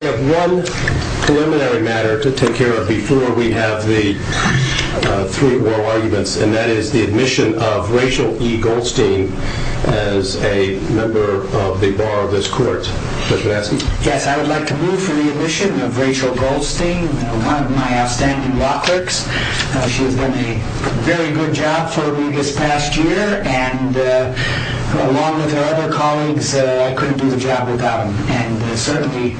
I have one preliminary matter to take care of before we have the three oral arguments and that is the admission of Rachel E. Goldstein as a member of the Bar of this Court. Yes, I would like to move for the admission of Rachel Goldstein, one of my outstanding law clerks. She has done a very good job for me this past year and along with her other colleagues I couldn't do the job without them. And certainly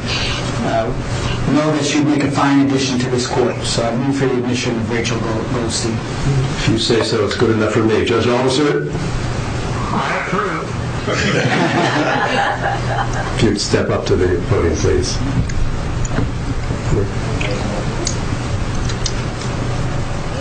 I know that she would make a fine addition to this Court. So I move for the admission of Rachel Goldstein. If you say so, it's good enough for me. Judge Alderson? I approve. If you would step up to the podium please. Thank you.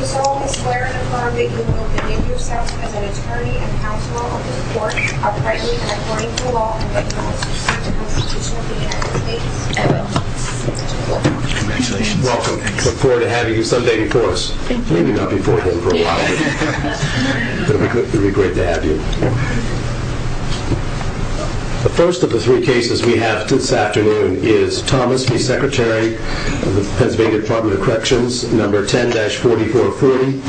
You solely swear and affirm that you will behave yourself as an attorney and counsel of this Court, uprightly and according to law, and that you will succeed in the Constitution of the United States of America. Congratulations. Welcome. I look forward to having you some day before us. Maybe not before then for a while. But it would be great to have you. The first of the three cases we have this afternoon is Thomas v. Secretary of the Pennsylvania Department of Corrections, No. 10-4430.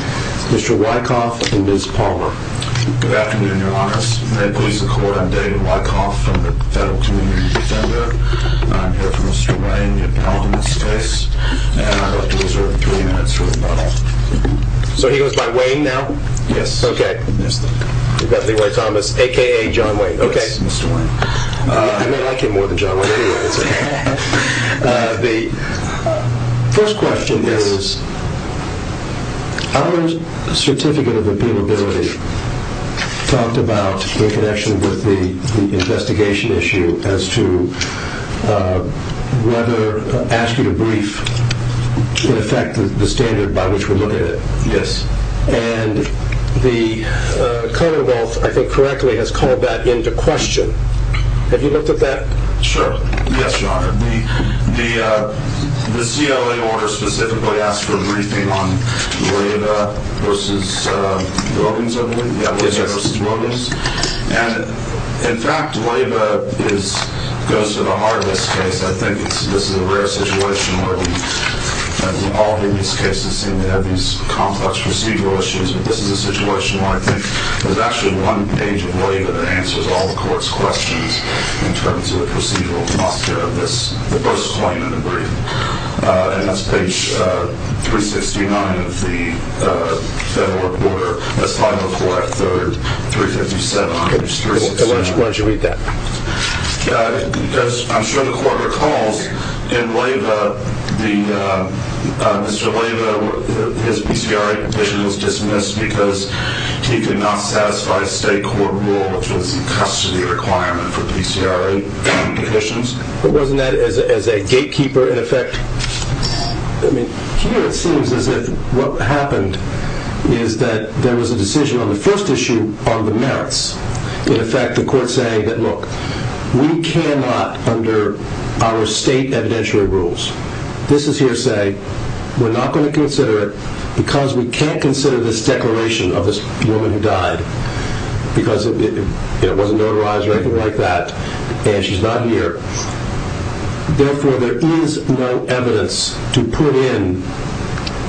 Mr. Wyckoff and Ms. Palmer. Good afternoon, Your Honors. May it please the Court, I'm David Wyckoff from the Federal Community Defender. I'm here for Mr. Wayne, your pal in this case. And I'd like to reserve three minutes for rebuttal. So he goes by Wayne now? Yes. Okay. We've got Leroy Thomas, a.k.a. John Wayne. Yes, Mr. Wayne. I mean, I like him more than John Wayne anyway. The first question is, our certificate of appealability talked about, in connection with the investigation issue, as to whether asking a brief would affect the standard by which we look at it. Yes. And the Commonwealth, I think correctly, has called that into question. Have you looked at that? Sure. Yes, Your Honor. The CLA order specifically asks for a briefing on Leyva v. Wilkins, I believe? Yes. And, in fact, Leyva goes to the heart of this case. I think this is a rare situation where all of these cases seem to have these complex procedural issues. This is a situation where I think there's actually one page of Leyva that answers all the Court's questions in terms of the procedural atmosphere of this, the first claim and the brief. And that's page 369 of the Federal Report, that's 504 F. 3rd, 357 H. 367. Why did you read that? Because, I'm sure the Court recalls, in Leyva, Mr. Leyva, his PCRA condition was dismissed because he could not satisfy state court rule, which was a custody requirement for PCRA conditions. But wasn't that as a gatekeeper, in effect? I mean, here it seems as if what happened is that there was a decision on the first issue on the merits. In effect, the Court saying that, look, we cannot, under our state evidentiary rules, this is hearsay. We're not going to consider it because we can't consider this declaration of this woman who died because it wasn't notarized or anything like that. And she's not here. Therefore, there is no evidence to put in.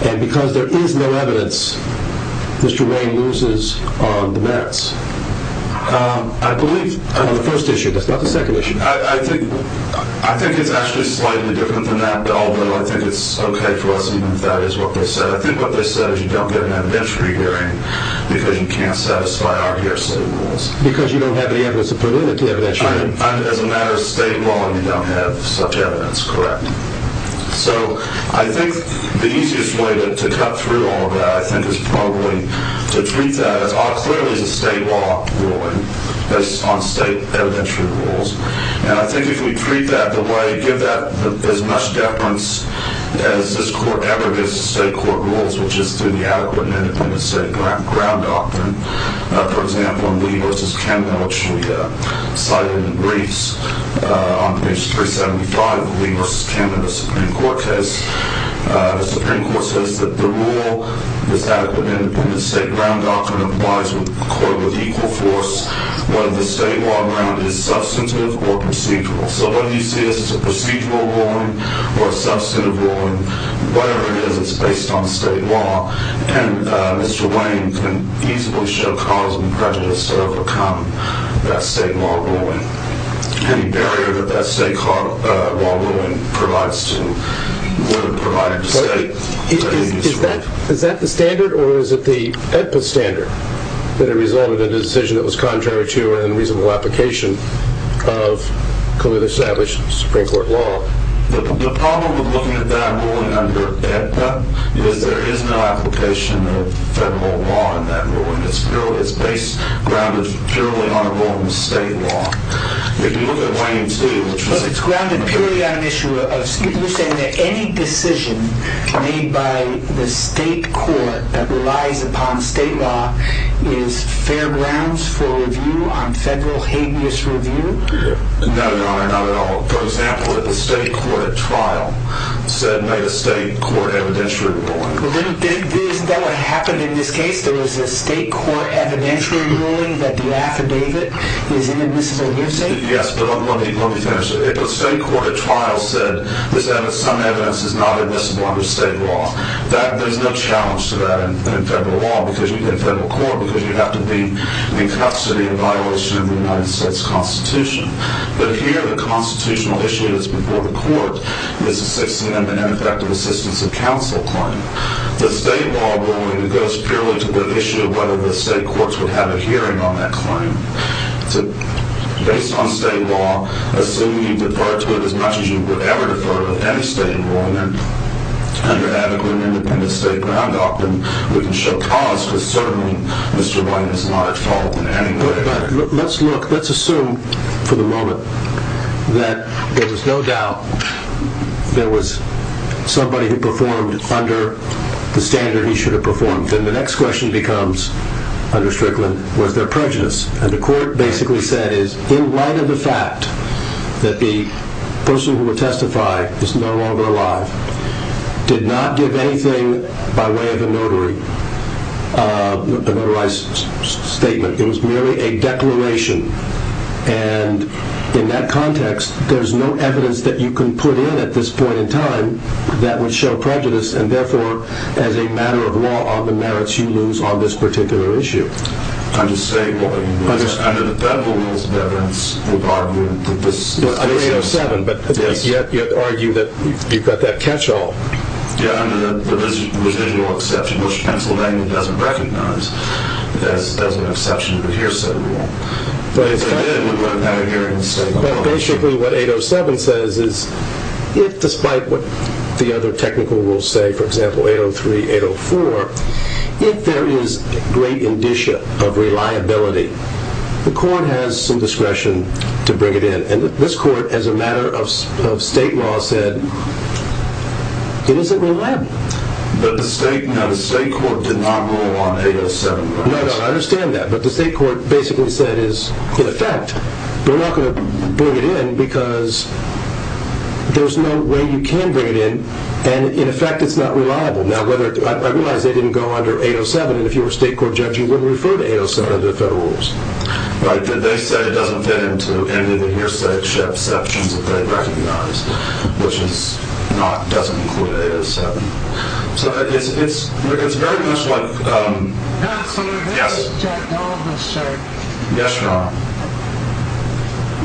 And because there is no evidence, Mr. Wayne loses on the merits. I believe on the first issue. That's not the second issue. I think it's actually slightly different than that, although I think it's okay for us even if that is what they said. I think what they said is you don't get an evidentiary hearing because you can't satisfy our hearsay rules. Because you don't have any evidence to put in at the evidentiary hearing. As a matter of state law, you don't have such evidence, correct? So I think the easiest way to cut through all of that, I think, is probably to treat that as clearly as a state law ruling based on state evidentiary rules. And I think if we treat that the way, give that as much deference as this Court ever gives to state court rules, which is through the adequate and independent state ground doctrine. For example, in Lee v. Cannon, which we cited in the briefs on page 375 of the Lee v. Cannon Supreme Court case, the Supreme Court says that the rule, this adequate and independent state ground doctrine applies with equal force whether the state law ground is substantive or procedural. So whether you see this as a procedural ruling or a substantive ruling, whatever it is, it's based on state law. And Mr. Wayne can easily show cause and prejudice to overcome that state law ruling. Any barrier that that state law ruling provides to, would have provided to state is very useful. Is that the standard or is it the EDPA standard that resulted in a decision that was contrary to and reasonable application of clearly established Supreme Court law? The problem with looking at that ruling under EDPA is there is no application of federal law in that ruling. It's purely, it's based, grounded purely on a rule of state law. If you look at Wayne too, which was- But it's grounded purely on an issue of, you're saying that any decision made by the state court that relies upon state law is fair grounds for review on federal habeas review? No, Your Honor, not at all. For example, if the state court at trial said, made a state court evidentiary ruling- Isn't that what happened in this case? There was a state court evidentiary ruling that the affidavit is an admissible hearsay? Yes, but let me finish. If a state court at trial said some evidence is not admissible under state law, there's no challenge to that in federal law, in federal court, because you'd have to be in custody in violation of the United States Constitution. But here, the constitutional issue that's before the court is a 16th Amendment ineffective assistance of counsel claim. The state law ruling goes purely to the issue of whether the state courts would have a hearing on that claim. Based on state law, assume you defer to it as much as you would ever defer to any state law, and then under adequate and independent state ground doctrine, we can show cause for certain Mr. Wayne is not at fault in any way. Let's assume for the moment that there was no doubt there was somebody who performed under the standard he should have performed. Then the next question becomes, under Strickland, was there prejudice? The court basically said, in light of the fact that the person who would testify is no longer alive, did not give anything by way of a notarized statement. It was merely a declaration, and in that context, there's no evidence that you can put in at this point in time that would show prejudice, and therefore, as a matter of law, are the merits you lose on this particular issue. I'm just saying, under the federal rules of evidence, we've argued that this is 307, but yet you argue that you've got that catch-all. Yeah, under the residual exception, which Pennsylvania doesn't recognize, that's an exception to the hearsay rule. Basically, what 807 says is, despite what the other technical rules say, for example, 803, 804, if there is great indicia of reliability, the court has some discretion to bring it in, and this court, as a matter of state law, said it isn't reliable. But the state court did not rule on 807, right? No, no, I understand that, but the state court basically said, in effect, they're not going to bring it in because there's no way you can bring it in, and in effect, it's not reliable. Now, I realize they didn't go under 807, and if you were a state court judge, you wouldn't refer to 807 under the federal rules. Right, but they said it doesn't fit into any of the hearsay exceptions that they recognize, which is not, doesn't include 807. So it's very much like, um, yes? Yes, Your Honor.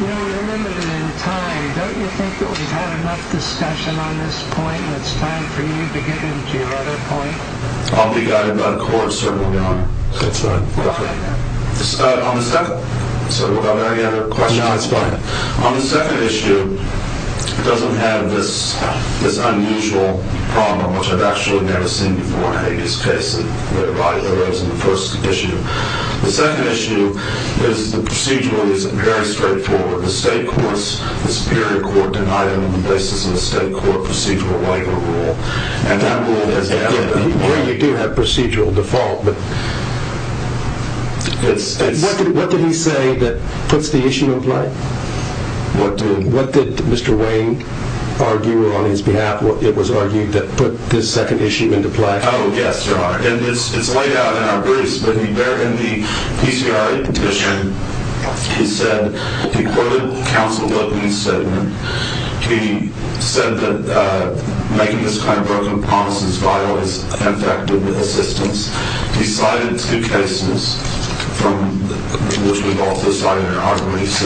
You know, we're limited in time. Don't you think that we've had enough discussion on this point, and it's time for you to get into your other point? I'll be guided by the court, certainly, Your Honor. That's fine. On the second, so without any other questions. No, that's fine. On the second issue, it doesn't have this unusual problem, which I've actually never seen before in any of these cases, and there are a lot of errors in the first issue. The second issue is the procedural is very straightforward. The state courts, the superior court denied them on the basis of a state court procedural waiver rule, and that rule has added up. Well, you do have procedural default, but what did he say that puts the issue in play? What did Mr. Wayne argue on his behalf? It was argued that put this second issue into play. Oh, yes, Your Honor. And it's laid out in our briefs, but in the PCRA petition, he said, he quoted counsel Lippman's statement. He said that making this kind of broken promises vital is effective assistance. He cited two cases, which we've also cited in our briefs,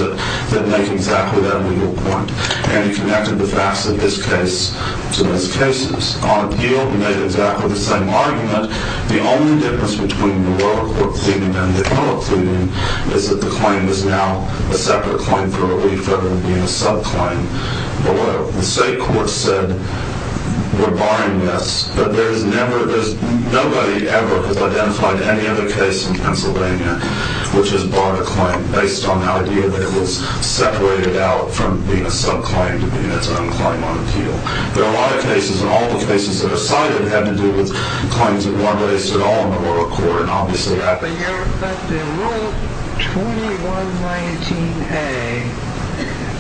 that make exactly that legal point, and he connected the facts of this case to those cases. On appeal, he made exactly the same argument. The only difference between the lower court's opinion and the public's opinion is that the claim is now a separate claim for relief rather than being a subclaim below. The state court said we're barring this, but nobody ever has identified any other case in Pennsylvania which has barred a claim based on the idea that it was separated out from being a subclaim to being its own claim on appeal. There are a lot of cases, and all the cases that are cited have to do with claims that weren't raised at all in the lower court, The rule 2119A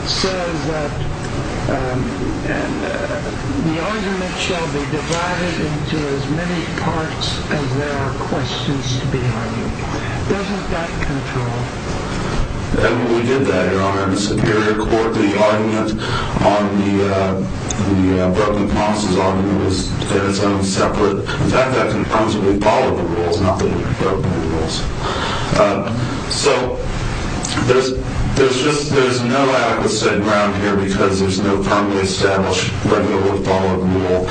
says that the argument shall be divided into as many parts as there are questions to be argued. Doesn't that control? We did that, Your Honor. In the Superior Court, the argument on the broken promises argument was that it's going to be separate. In fact, that confirms that we followed the rules, not that we broke the rules. So there's no adequate state ground here because there's no firmly established, regularly followed rule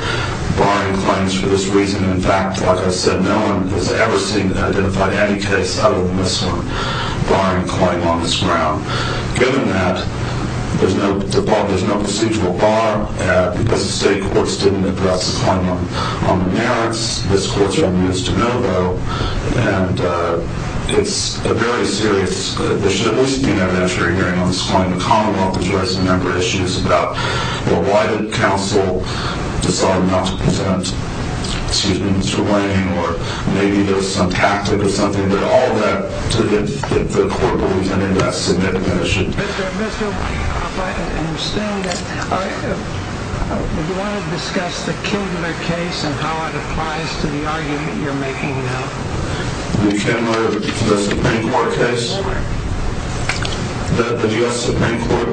barring claims for this reason. In fact, like I said, no one has ever seen and identified any case other than this one barring a claim on this ground. Given that, there's no procedural bar because the state courts didn't address the claim on the merits. This court's running it as de novo, and it's a very serious issue. There should at least be an evidentiary hearing on this claim. The commonwealth has raised a number of issues about why did counsel decide not to present, excuse me, Mr. Lane, or maybe there's some tactic or something, but all that the court believes in that significant issue. Mr. Mitchell, if I understand that, do you want to discuss the Kindler case and how it applies to the argument you're making now? The Kindler, the Supreme Court case? The Supreme Court. The U.S. Supreme Court?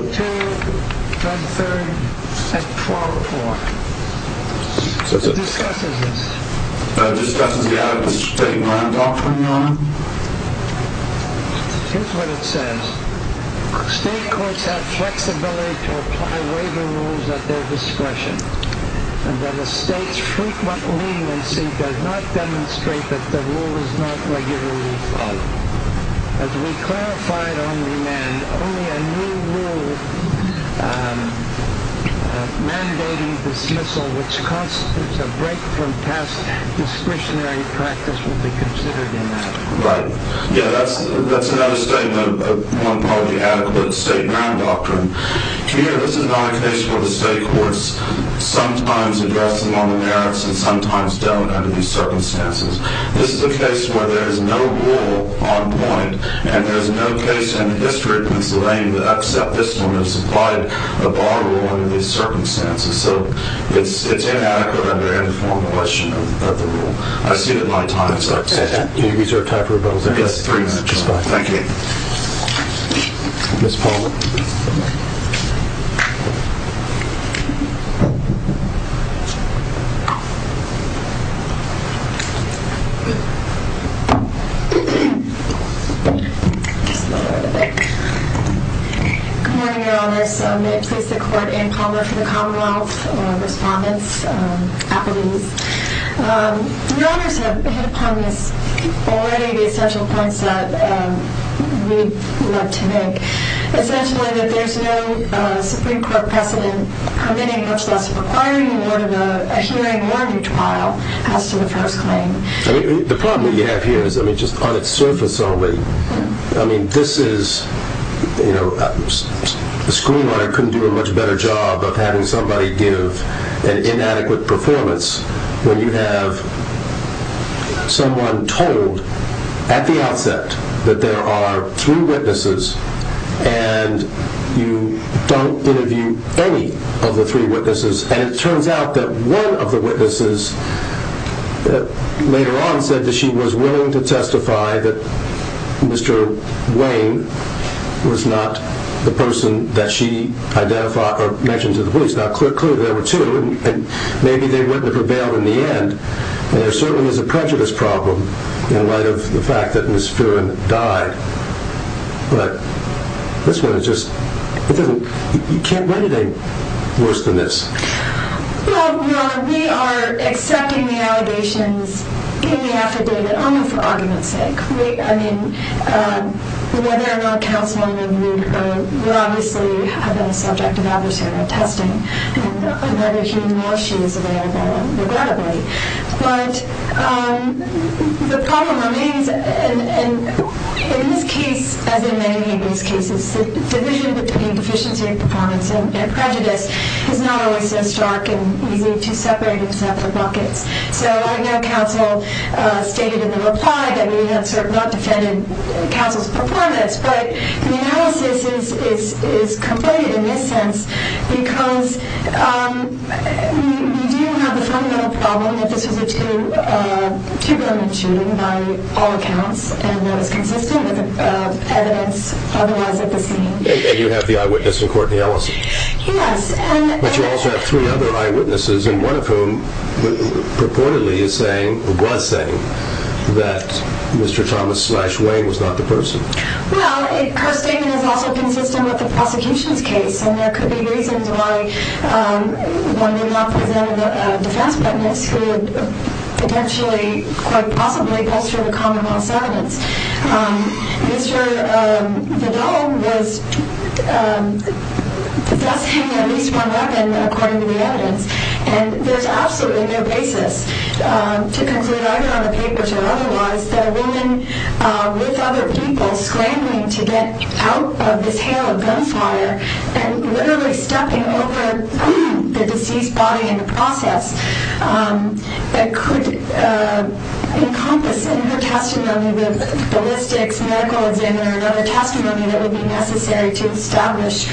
2-13-12-4. Discusses this. Discusses the out-of-district land offering law? Here's what it says. State courts have flexibility to apply waiver rules at their discretion. And that a state's frequent leniency does not demonstrate that the rule is not regularly followed. As we clarified on remand, only a new rule mandating dismissal, which constitutes a break from past discretionary practice, will be considered in that. Right. Yeah, that's another statement of one probably adequate state ground doctrine. Here, this is not a case where the state courts sometimes address them on the merits and sometimes don't under these circumstances. This is a case where there is no rule on point and there's no case in the history of Pennsylvania that upset this one and supplied a bar rule under these circumstances. So it's inadequate under any formulation of the rule. I've seen it a lot of times. Can you reserve time for rebuttals? Yes, three minutes. Thank you. Ms. Palmer? Just a little bit. Good morning, Your Honors. May it please the Court, Anne Palmer for the Commonwealth, Respondents, Appellees. Your Honors have hit upon this already, the essential points that we'd like to make. Essentially that there's no Supreme Court precedent committing, much less requiring, a hearing or a retrial as to the first claim. The problem that you have here is just on its surface only. The screenwriter couldn't do a much better job of having somebody give an inadequate performance when you have someone told at the outset that there are three witnesses and you don't interview any of the three witnesses. And it turns out that one of the witnesses later on said that she was willing to testify that Mr. Wayne was not the person that she mentioned to the police. Now, clearly there were two and maybe they wouldn't have prevailed in the end. And there certainly is a prejudice problem in light of the fact that Ms. Phelan died. But this one is just, it doesn't, you can't blame anything worse than this. Well, we are accepting the allegations in the affidavit only for argument's sake. I mean, whether or not counseling would obviously have been a subject of adversarial testing. And whether he or she is available, regrettably. But the problem remains, and in this case, as in many of these cases, the division between deficiency of performance and prejudice is not always so stark and easy to separate in separate buckets. So, I know counsel stated in the reply that we have not defended counsel's performance. But the analysis is completed in this sense because we do have the fundamental problem that this was a two-grooming shooting by all accounts. And that is consistent with the evidence otherwise at the scene. And you have the eyewitness in court, Nielsen? Yes. But you also have three other eyewitnesses, and one of whom purportedly is saying, or was saying, that Mr. Thomas slash Wayne was not the person. Well, her statement is also consistent with the prosecution's case. And there could be reasons why one may not present a defense witness who would potentially, quite possibly, bolster the commonwealth's evidence. Mr. Vidal was thus hanging at least one weapon, according to the evidence. And there's absolutely no basis to conclude, either on the paper or otherwise, that a woman with other people scrambling to get out of this hail of gunfire and literally stepping over the deceased body in the process that could encompass in her testimony the ballistics, medical examiner, and other testimony that would be necessary to establish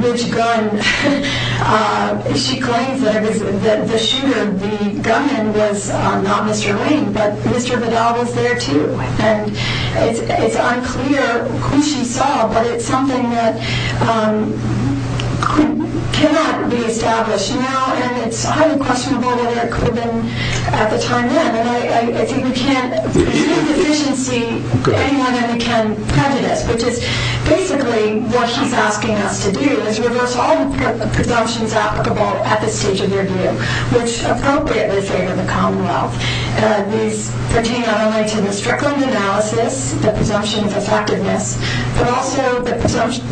which gun she claims that the shooter, the gunman, was not Mr. Wayne, but Mr. Vidal was there, too. And it's unclear who she saw, but it's something that cannot be established now. And it's highly questionable whether it could have been at the time then. And I think we can't do deficiency any more than we can prejudice, which is basically what he's asking us to do, is reverse all the presumptions applicable at this stage of the review, which appropriately favor the commonwealth. These pertain not only to the Strickland analysis, the presumption of effectiveness, but also the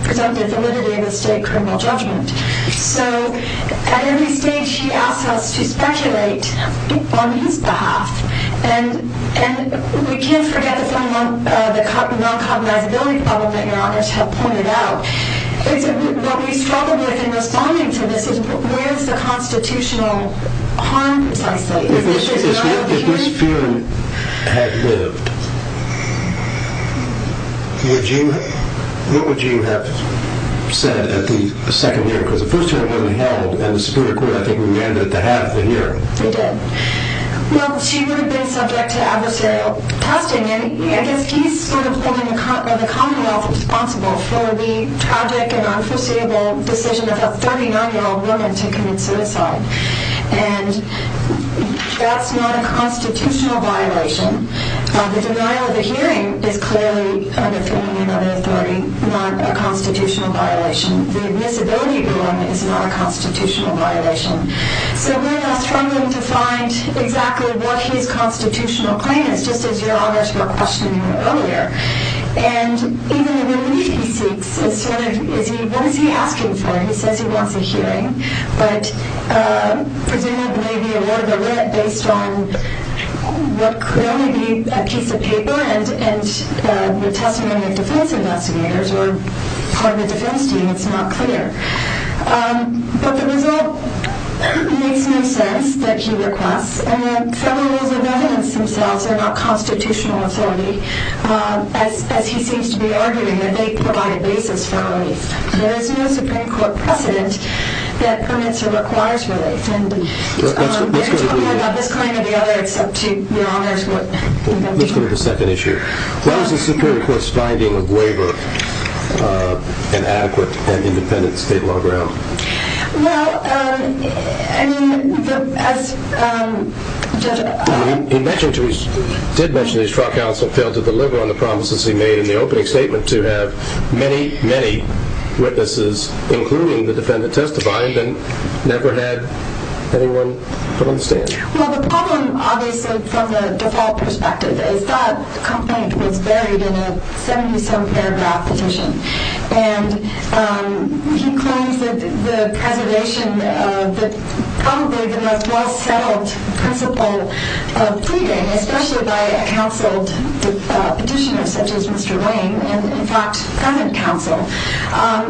presumptive validity of the state criminal judgment. So, at every stage, he asks us to speculate on his behalf. And we can't forget the non-commonizability problem that your honors have pointed out. What we struggle with in responding to this is where's the constitutional harm, precisely? If this fear had lived, what would you have said at the second hearing? Because the first hearing wasn't held, and the Supreme Court, I think, remanded to have the hearing. It did. Well, she would have been subject to adversarial testing, and I guess he's sort of holding the commonwealth responsible for the tragic and unforeseeable decision of a 39-year-old woman to commit suicide. And that's not a constitutional violation. The denial of the hearing is clearly under 30 and under authority, not a constitutional violation. The admissibility of the woman is not a constitutional violation. So we're now struggling to find exactly what his constitutional claim is, just as your honors were questioning earlier. And even the relief he seeks is sort of, what is he asking for? He says he wants a hearing, but presumably it may be awarded or lit based on what could only be a piece of paper and the testimony of defense investigators or part of the defense team. It's not clear. But the result makes no sense that he requests. And the federal rules of evidence themselves are not constitutional authority, as he seems to be arguing that they provide a basis for relief. There is no Supreme Court precedent that permits or requires relief. And they're talking about this claim or the other. It's up to your honors what they're going to do. Let's go to the second issue. What was the Supreme Court's finding of waiver of an adequate and independent state law ground? Well, I mean, as Judge O'Connor mentioned, he did mention that his trial counsel failed to deliver on the promises he made in the opening statement to have many, many witnesses, including the defendant testifying, and never had anyone come on the stand. Well, the problem, obviously, from the default perspective, is that complaint was buried in a 70-some paragraph petition. And he claims that the preservation of the probably the most well-settled principle of pleading, especially by a counseled petitioner such as Mr. Wayne, and in fact, present counsel,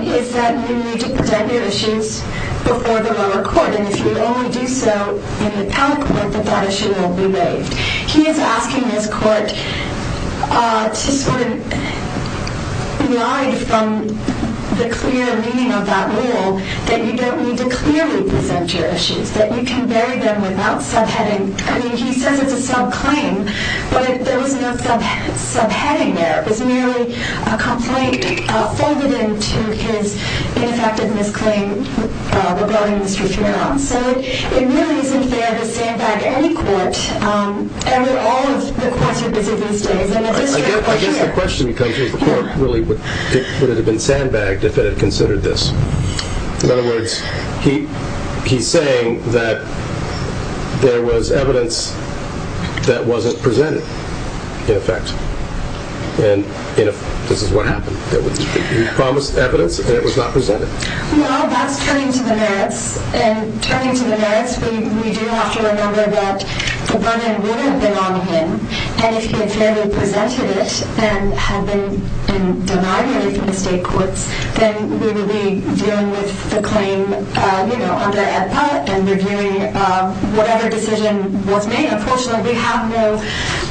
is that you need to present your issues before the lower court. And if you only do so in the appellate court, then that issue will be waived. He is asking his court to sort of glide from the clear meaning of that rule, that you don't need to clearly present your issues, that you can bury them without subheading. I mean, he says it's a subclaim, but there was no subheading there. It was merely a complaint folded into his ineffective misclaim regarding Mr. Thurow. So it really isn't fair to sandbag any court, and all of the courts are busy these days. I guess the question becomes, would it have been sandbagged if it had considered this? In other words, he's saying that there was evidence that wasn't presented, in effect. And this is what happened. He promised evidence, and it was not presented. Well, that's turning to the merits. And turning to the merits, we do have to remember that the burden wouldn't have been on him. And if he had fairly presented it and denied it in the state courts, then we would be dealing with the claim under AEDPA and reviewing whatever decision was made. Unfortunately, we have no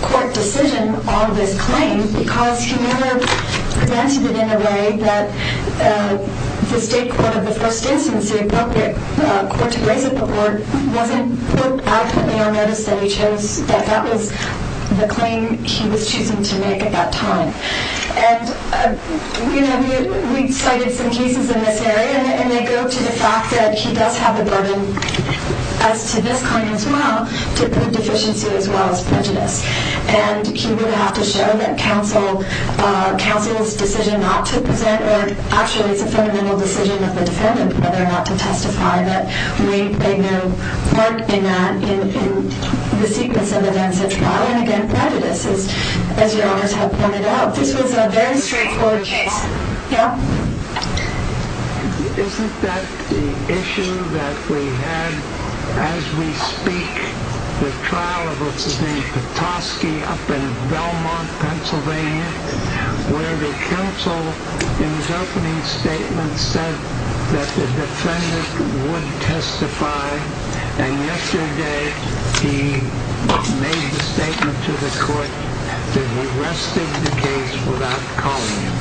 court decision on this claim, because he never presented it in a way that the state court of the first instance, the appropriate court to raise it before, wasn't adequately on notice that he chose, that that was the claim he was choosing to make at that time. And, you know, we cited some cases in this area, and they go to the fact that he does have the burden as to this claim as well, to prove deficiency as well as prejudice. And he would have to show that counsel's decision not to present, or actually, it's a fundamental decision of the defendant, whether or not to testify that we played no part in that in the sequence of events at trial. And again, prejudice, as your honors have pointed out. This was a very straightforward case. Yeah? Isn't that the issue that we had as we speak, the trial of what's his name, Petoskey, up in Belmont, Pennsylvania, where the counsel in his opening statement said that the defendant would testify, and yesterday he made the statement to the court that he rested the case without calling him.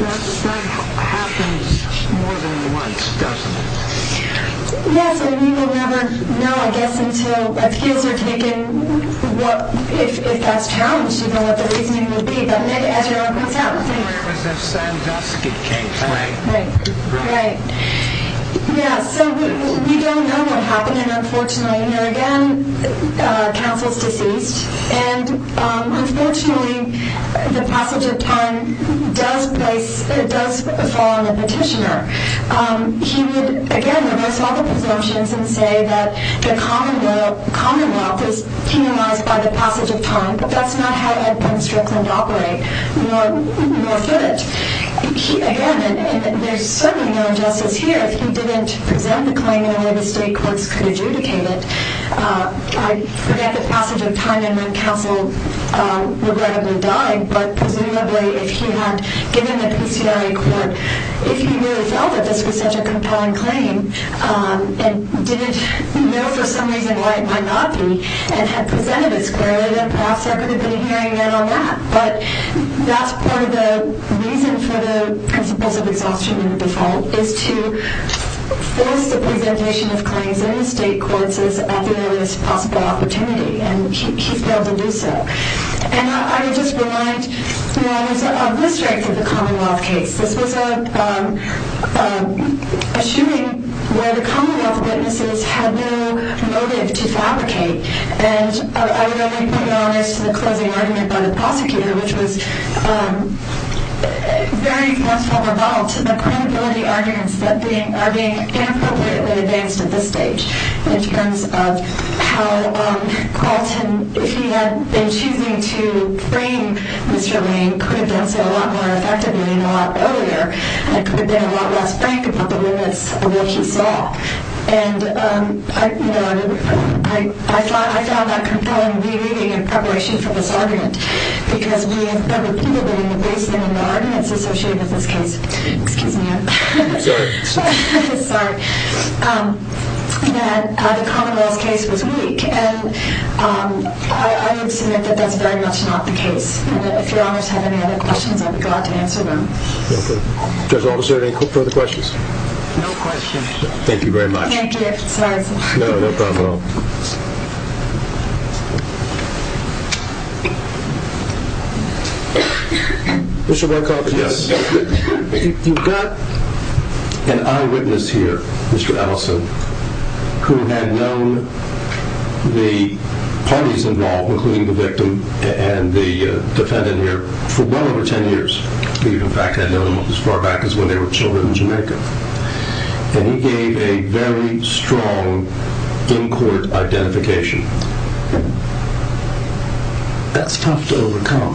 That happens more than once, doesn't it? Yes, and we will never know, I guess, until appeals are taken, if that's challenged. We don't know what the reasoning would be, but as your honor points out. It was a Sandusky case, right? Right, right. Yeah, so we don't know what happened, and unfortunately, again, counsel's deceased, and unfortunately, the passage of time does fall on the petitioner. He would, again, reverse all the presumptions and say that the Commonwealth was penalized by the passage of time. That's not how Edwin Strickland operated, nor fit it. Again, there's certainly no injustice here if he didn't present the claim in a way the state courts could adjudicate it. I forget the passage of time and when counsel regrettably died, but presumably if he had given the PCIA court, if he really felt that this was such a compelling claim and didn't know for some reason why it might not be, and had presented it squarely, then perhaps there could have been a hearing in on that. But that's part of the reason for the principles of exhaustion and default, is to force the presentation of claims in the state courts at the earliest possible opportunity, and he failed to do so. And I would just remind, you know, there's a list right for the Commonwealth case. This was a shooting where the Commonwealth witnesses had no motive to fabricate, and I would only put an honors to the closing argument by the prosecutor, which was very much above all to the credibility arguments that are being inappropriately advanced at this stage, in terms of how Carlton, if he had been choosing to frame Mr. Lane, he could have done so a lot more effectively and a lot earlier, and it could have been a lot less frank about the limits of what he saw. And, you know, I found that compelling re-reading in preparation for this argument, because we have heard repeatedly in the basement and the arguments associated with this case, excuse me, I'm sorry, that the Commonwealth's case was weak, and I would submit that that's very much not the case. And if your honors have any other questions, I would be glad to answer them. Okay. Judge Alderson, any further questions? No questions. Thank you very much. Thank you. I'm sorry. No, no problem at all. Mr. Woodcock. Yes. You've got an eyewitness here, Mr. Ellison, who had known the parties involved, including the victim and the defendant here, for well over ten years. He, in fact, had known them as far back as when they were children in Jamaica. And he gave a very strong in-court identification. That's tough to overcome.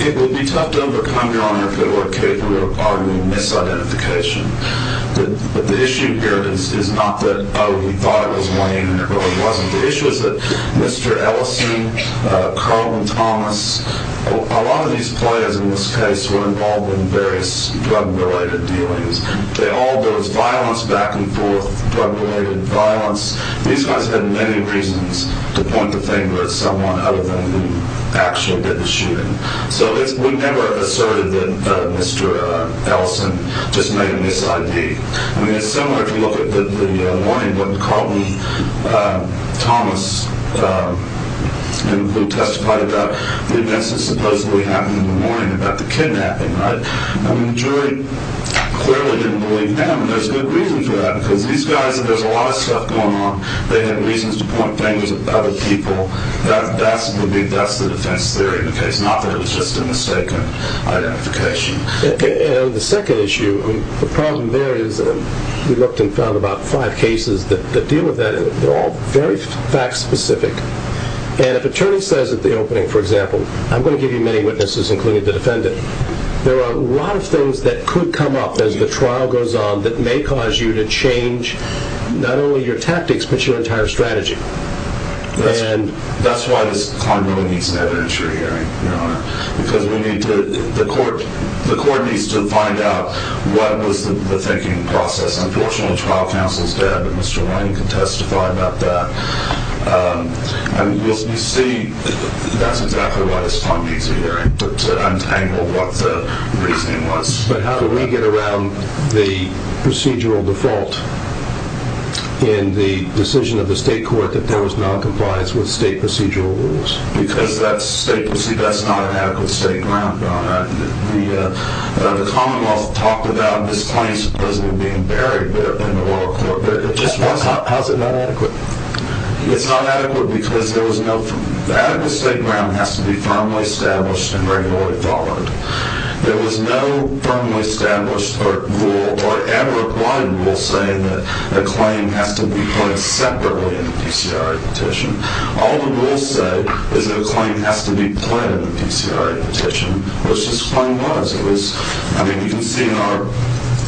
It would be tough to overcome, Your Honor, if it were capable of arguing misidentification. But the issue here is not that, oh, he thought it was Wayne, and it really wasn't. The issue is that Mr. Ellison, Carlton Thomas, a lot of these players in this case were involved in various drug-related dealings. They all, there was violence back and forth, drug-related violence. These guys had many reasons to point the finger at someone other than who actually did the shooting. So we never asserted that Mr. Ellison just made a mis-ID. I mean, it's similar if you look at the morning when Carlton Thomas, who testified about the events that supposedly happened in the morning about the kidnapping, right? I mean, jury clearly didn't believe him. And there's good reason for that, because these guys, there's a lot of stuff going on. They had reasons to point fingers at other people. That's the defense theory in the case, not that it was just a mistaken identification. And the second issue, the problem there is, we looked and found about five cases that deal with that, and they're all very fact-specific. And if an attorney says at the opening, for example, I'm going to give you many witnesses, including the defendant, that there are a lot of things that could come up as the trial goes on that may cause you to change not only your tactics but your entire strategy. And that's why this client really needs an evidentiary hearing, because the court needs to find out what was the thinking process. Unfortunately, the trial counsel is dead, but Mr. Lane can testify about that. You see, that's exactly why this client needs an evidentiary hearing, to untangle what the reasoning was. But how do we get around the procedural default in the decision of the state court that there was noncompliance with state procedural rules? Because that's not an adequate state ground, Ron. The commonwealth talked about this client supposedly being buried in the royal court, but it just wasn't. How is it not adequate? It's not adequate because there was no... The adequate state ground has to be firmly established and regularly followed. There was no firmly established rule or ever applied rule saying that a claim has to be put separately in the PCRA petition. All the rules say is that a claim has to be put in the PCRA petition, which this claim was. It was... I mean, you can see in our...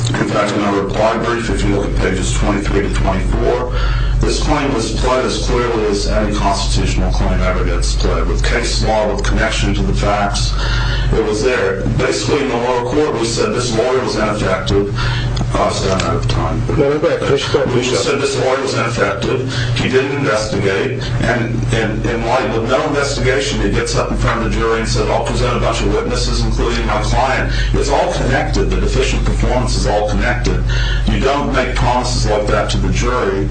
In fact, in our reply brief, if you look at pages 23 to 24, this claim was played as clearly as any constitutional claim ever gets played, with case law, with connection to the facts. It was there. Basically, in the royal court, we said this lawyer was ineffective. Oh, I was running out of time. Go right back. Go straight back. We said this lawyer was ineffective. He didn't investigate. And in light of no investigation, he gets up in front of the jury and said, I'll present a bunch of witnesses, including my client. It's all connected. The deficient performance is all connected. You don't make promises like that to the jury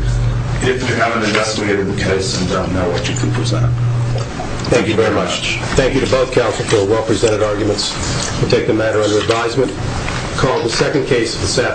if you haven't investigated the case and don't know what you can present. Thank you very much. Thank you to both counsel for well-presented arguments. We'll take the matter under advisement. Call the second case this afternoon.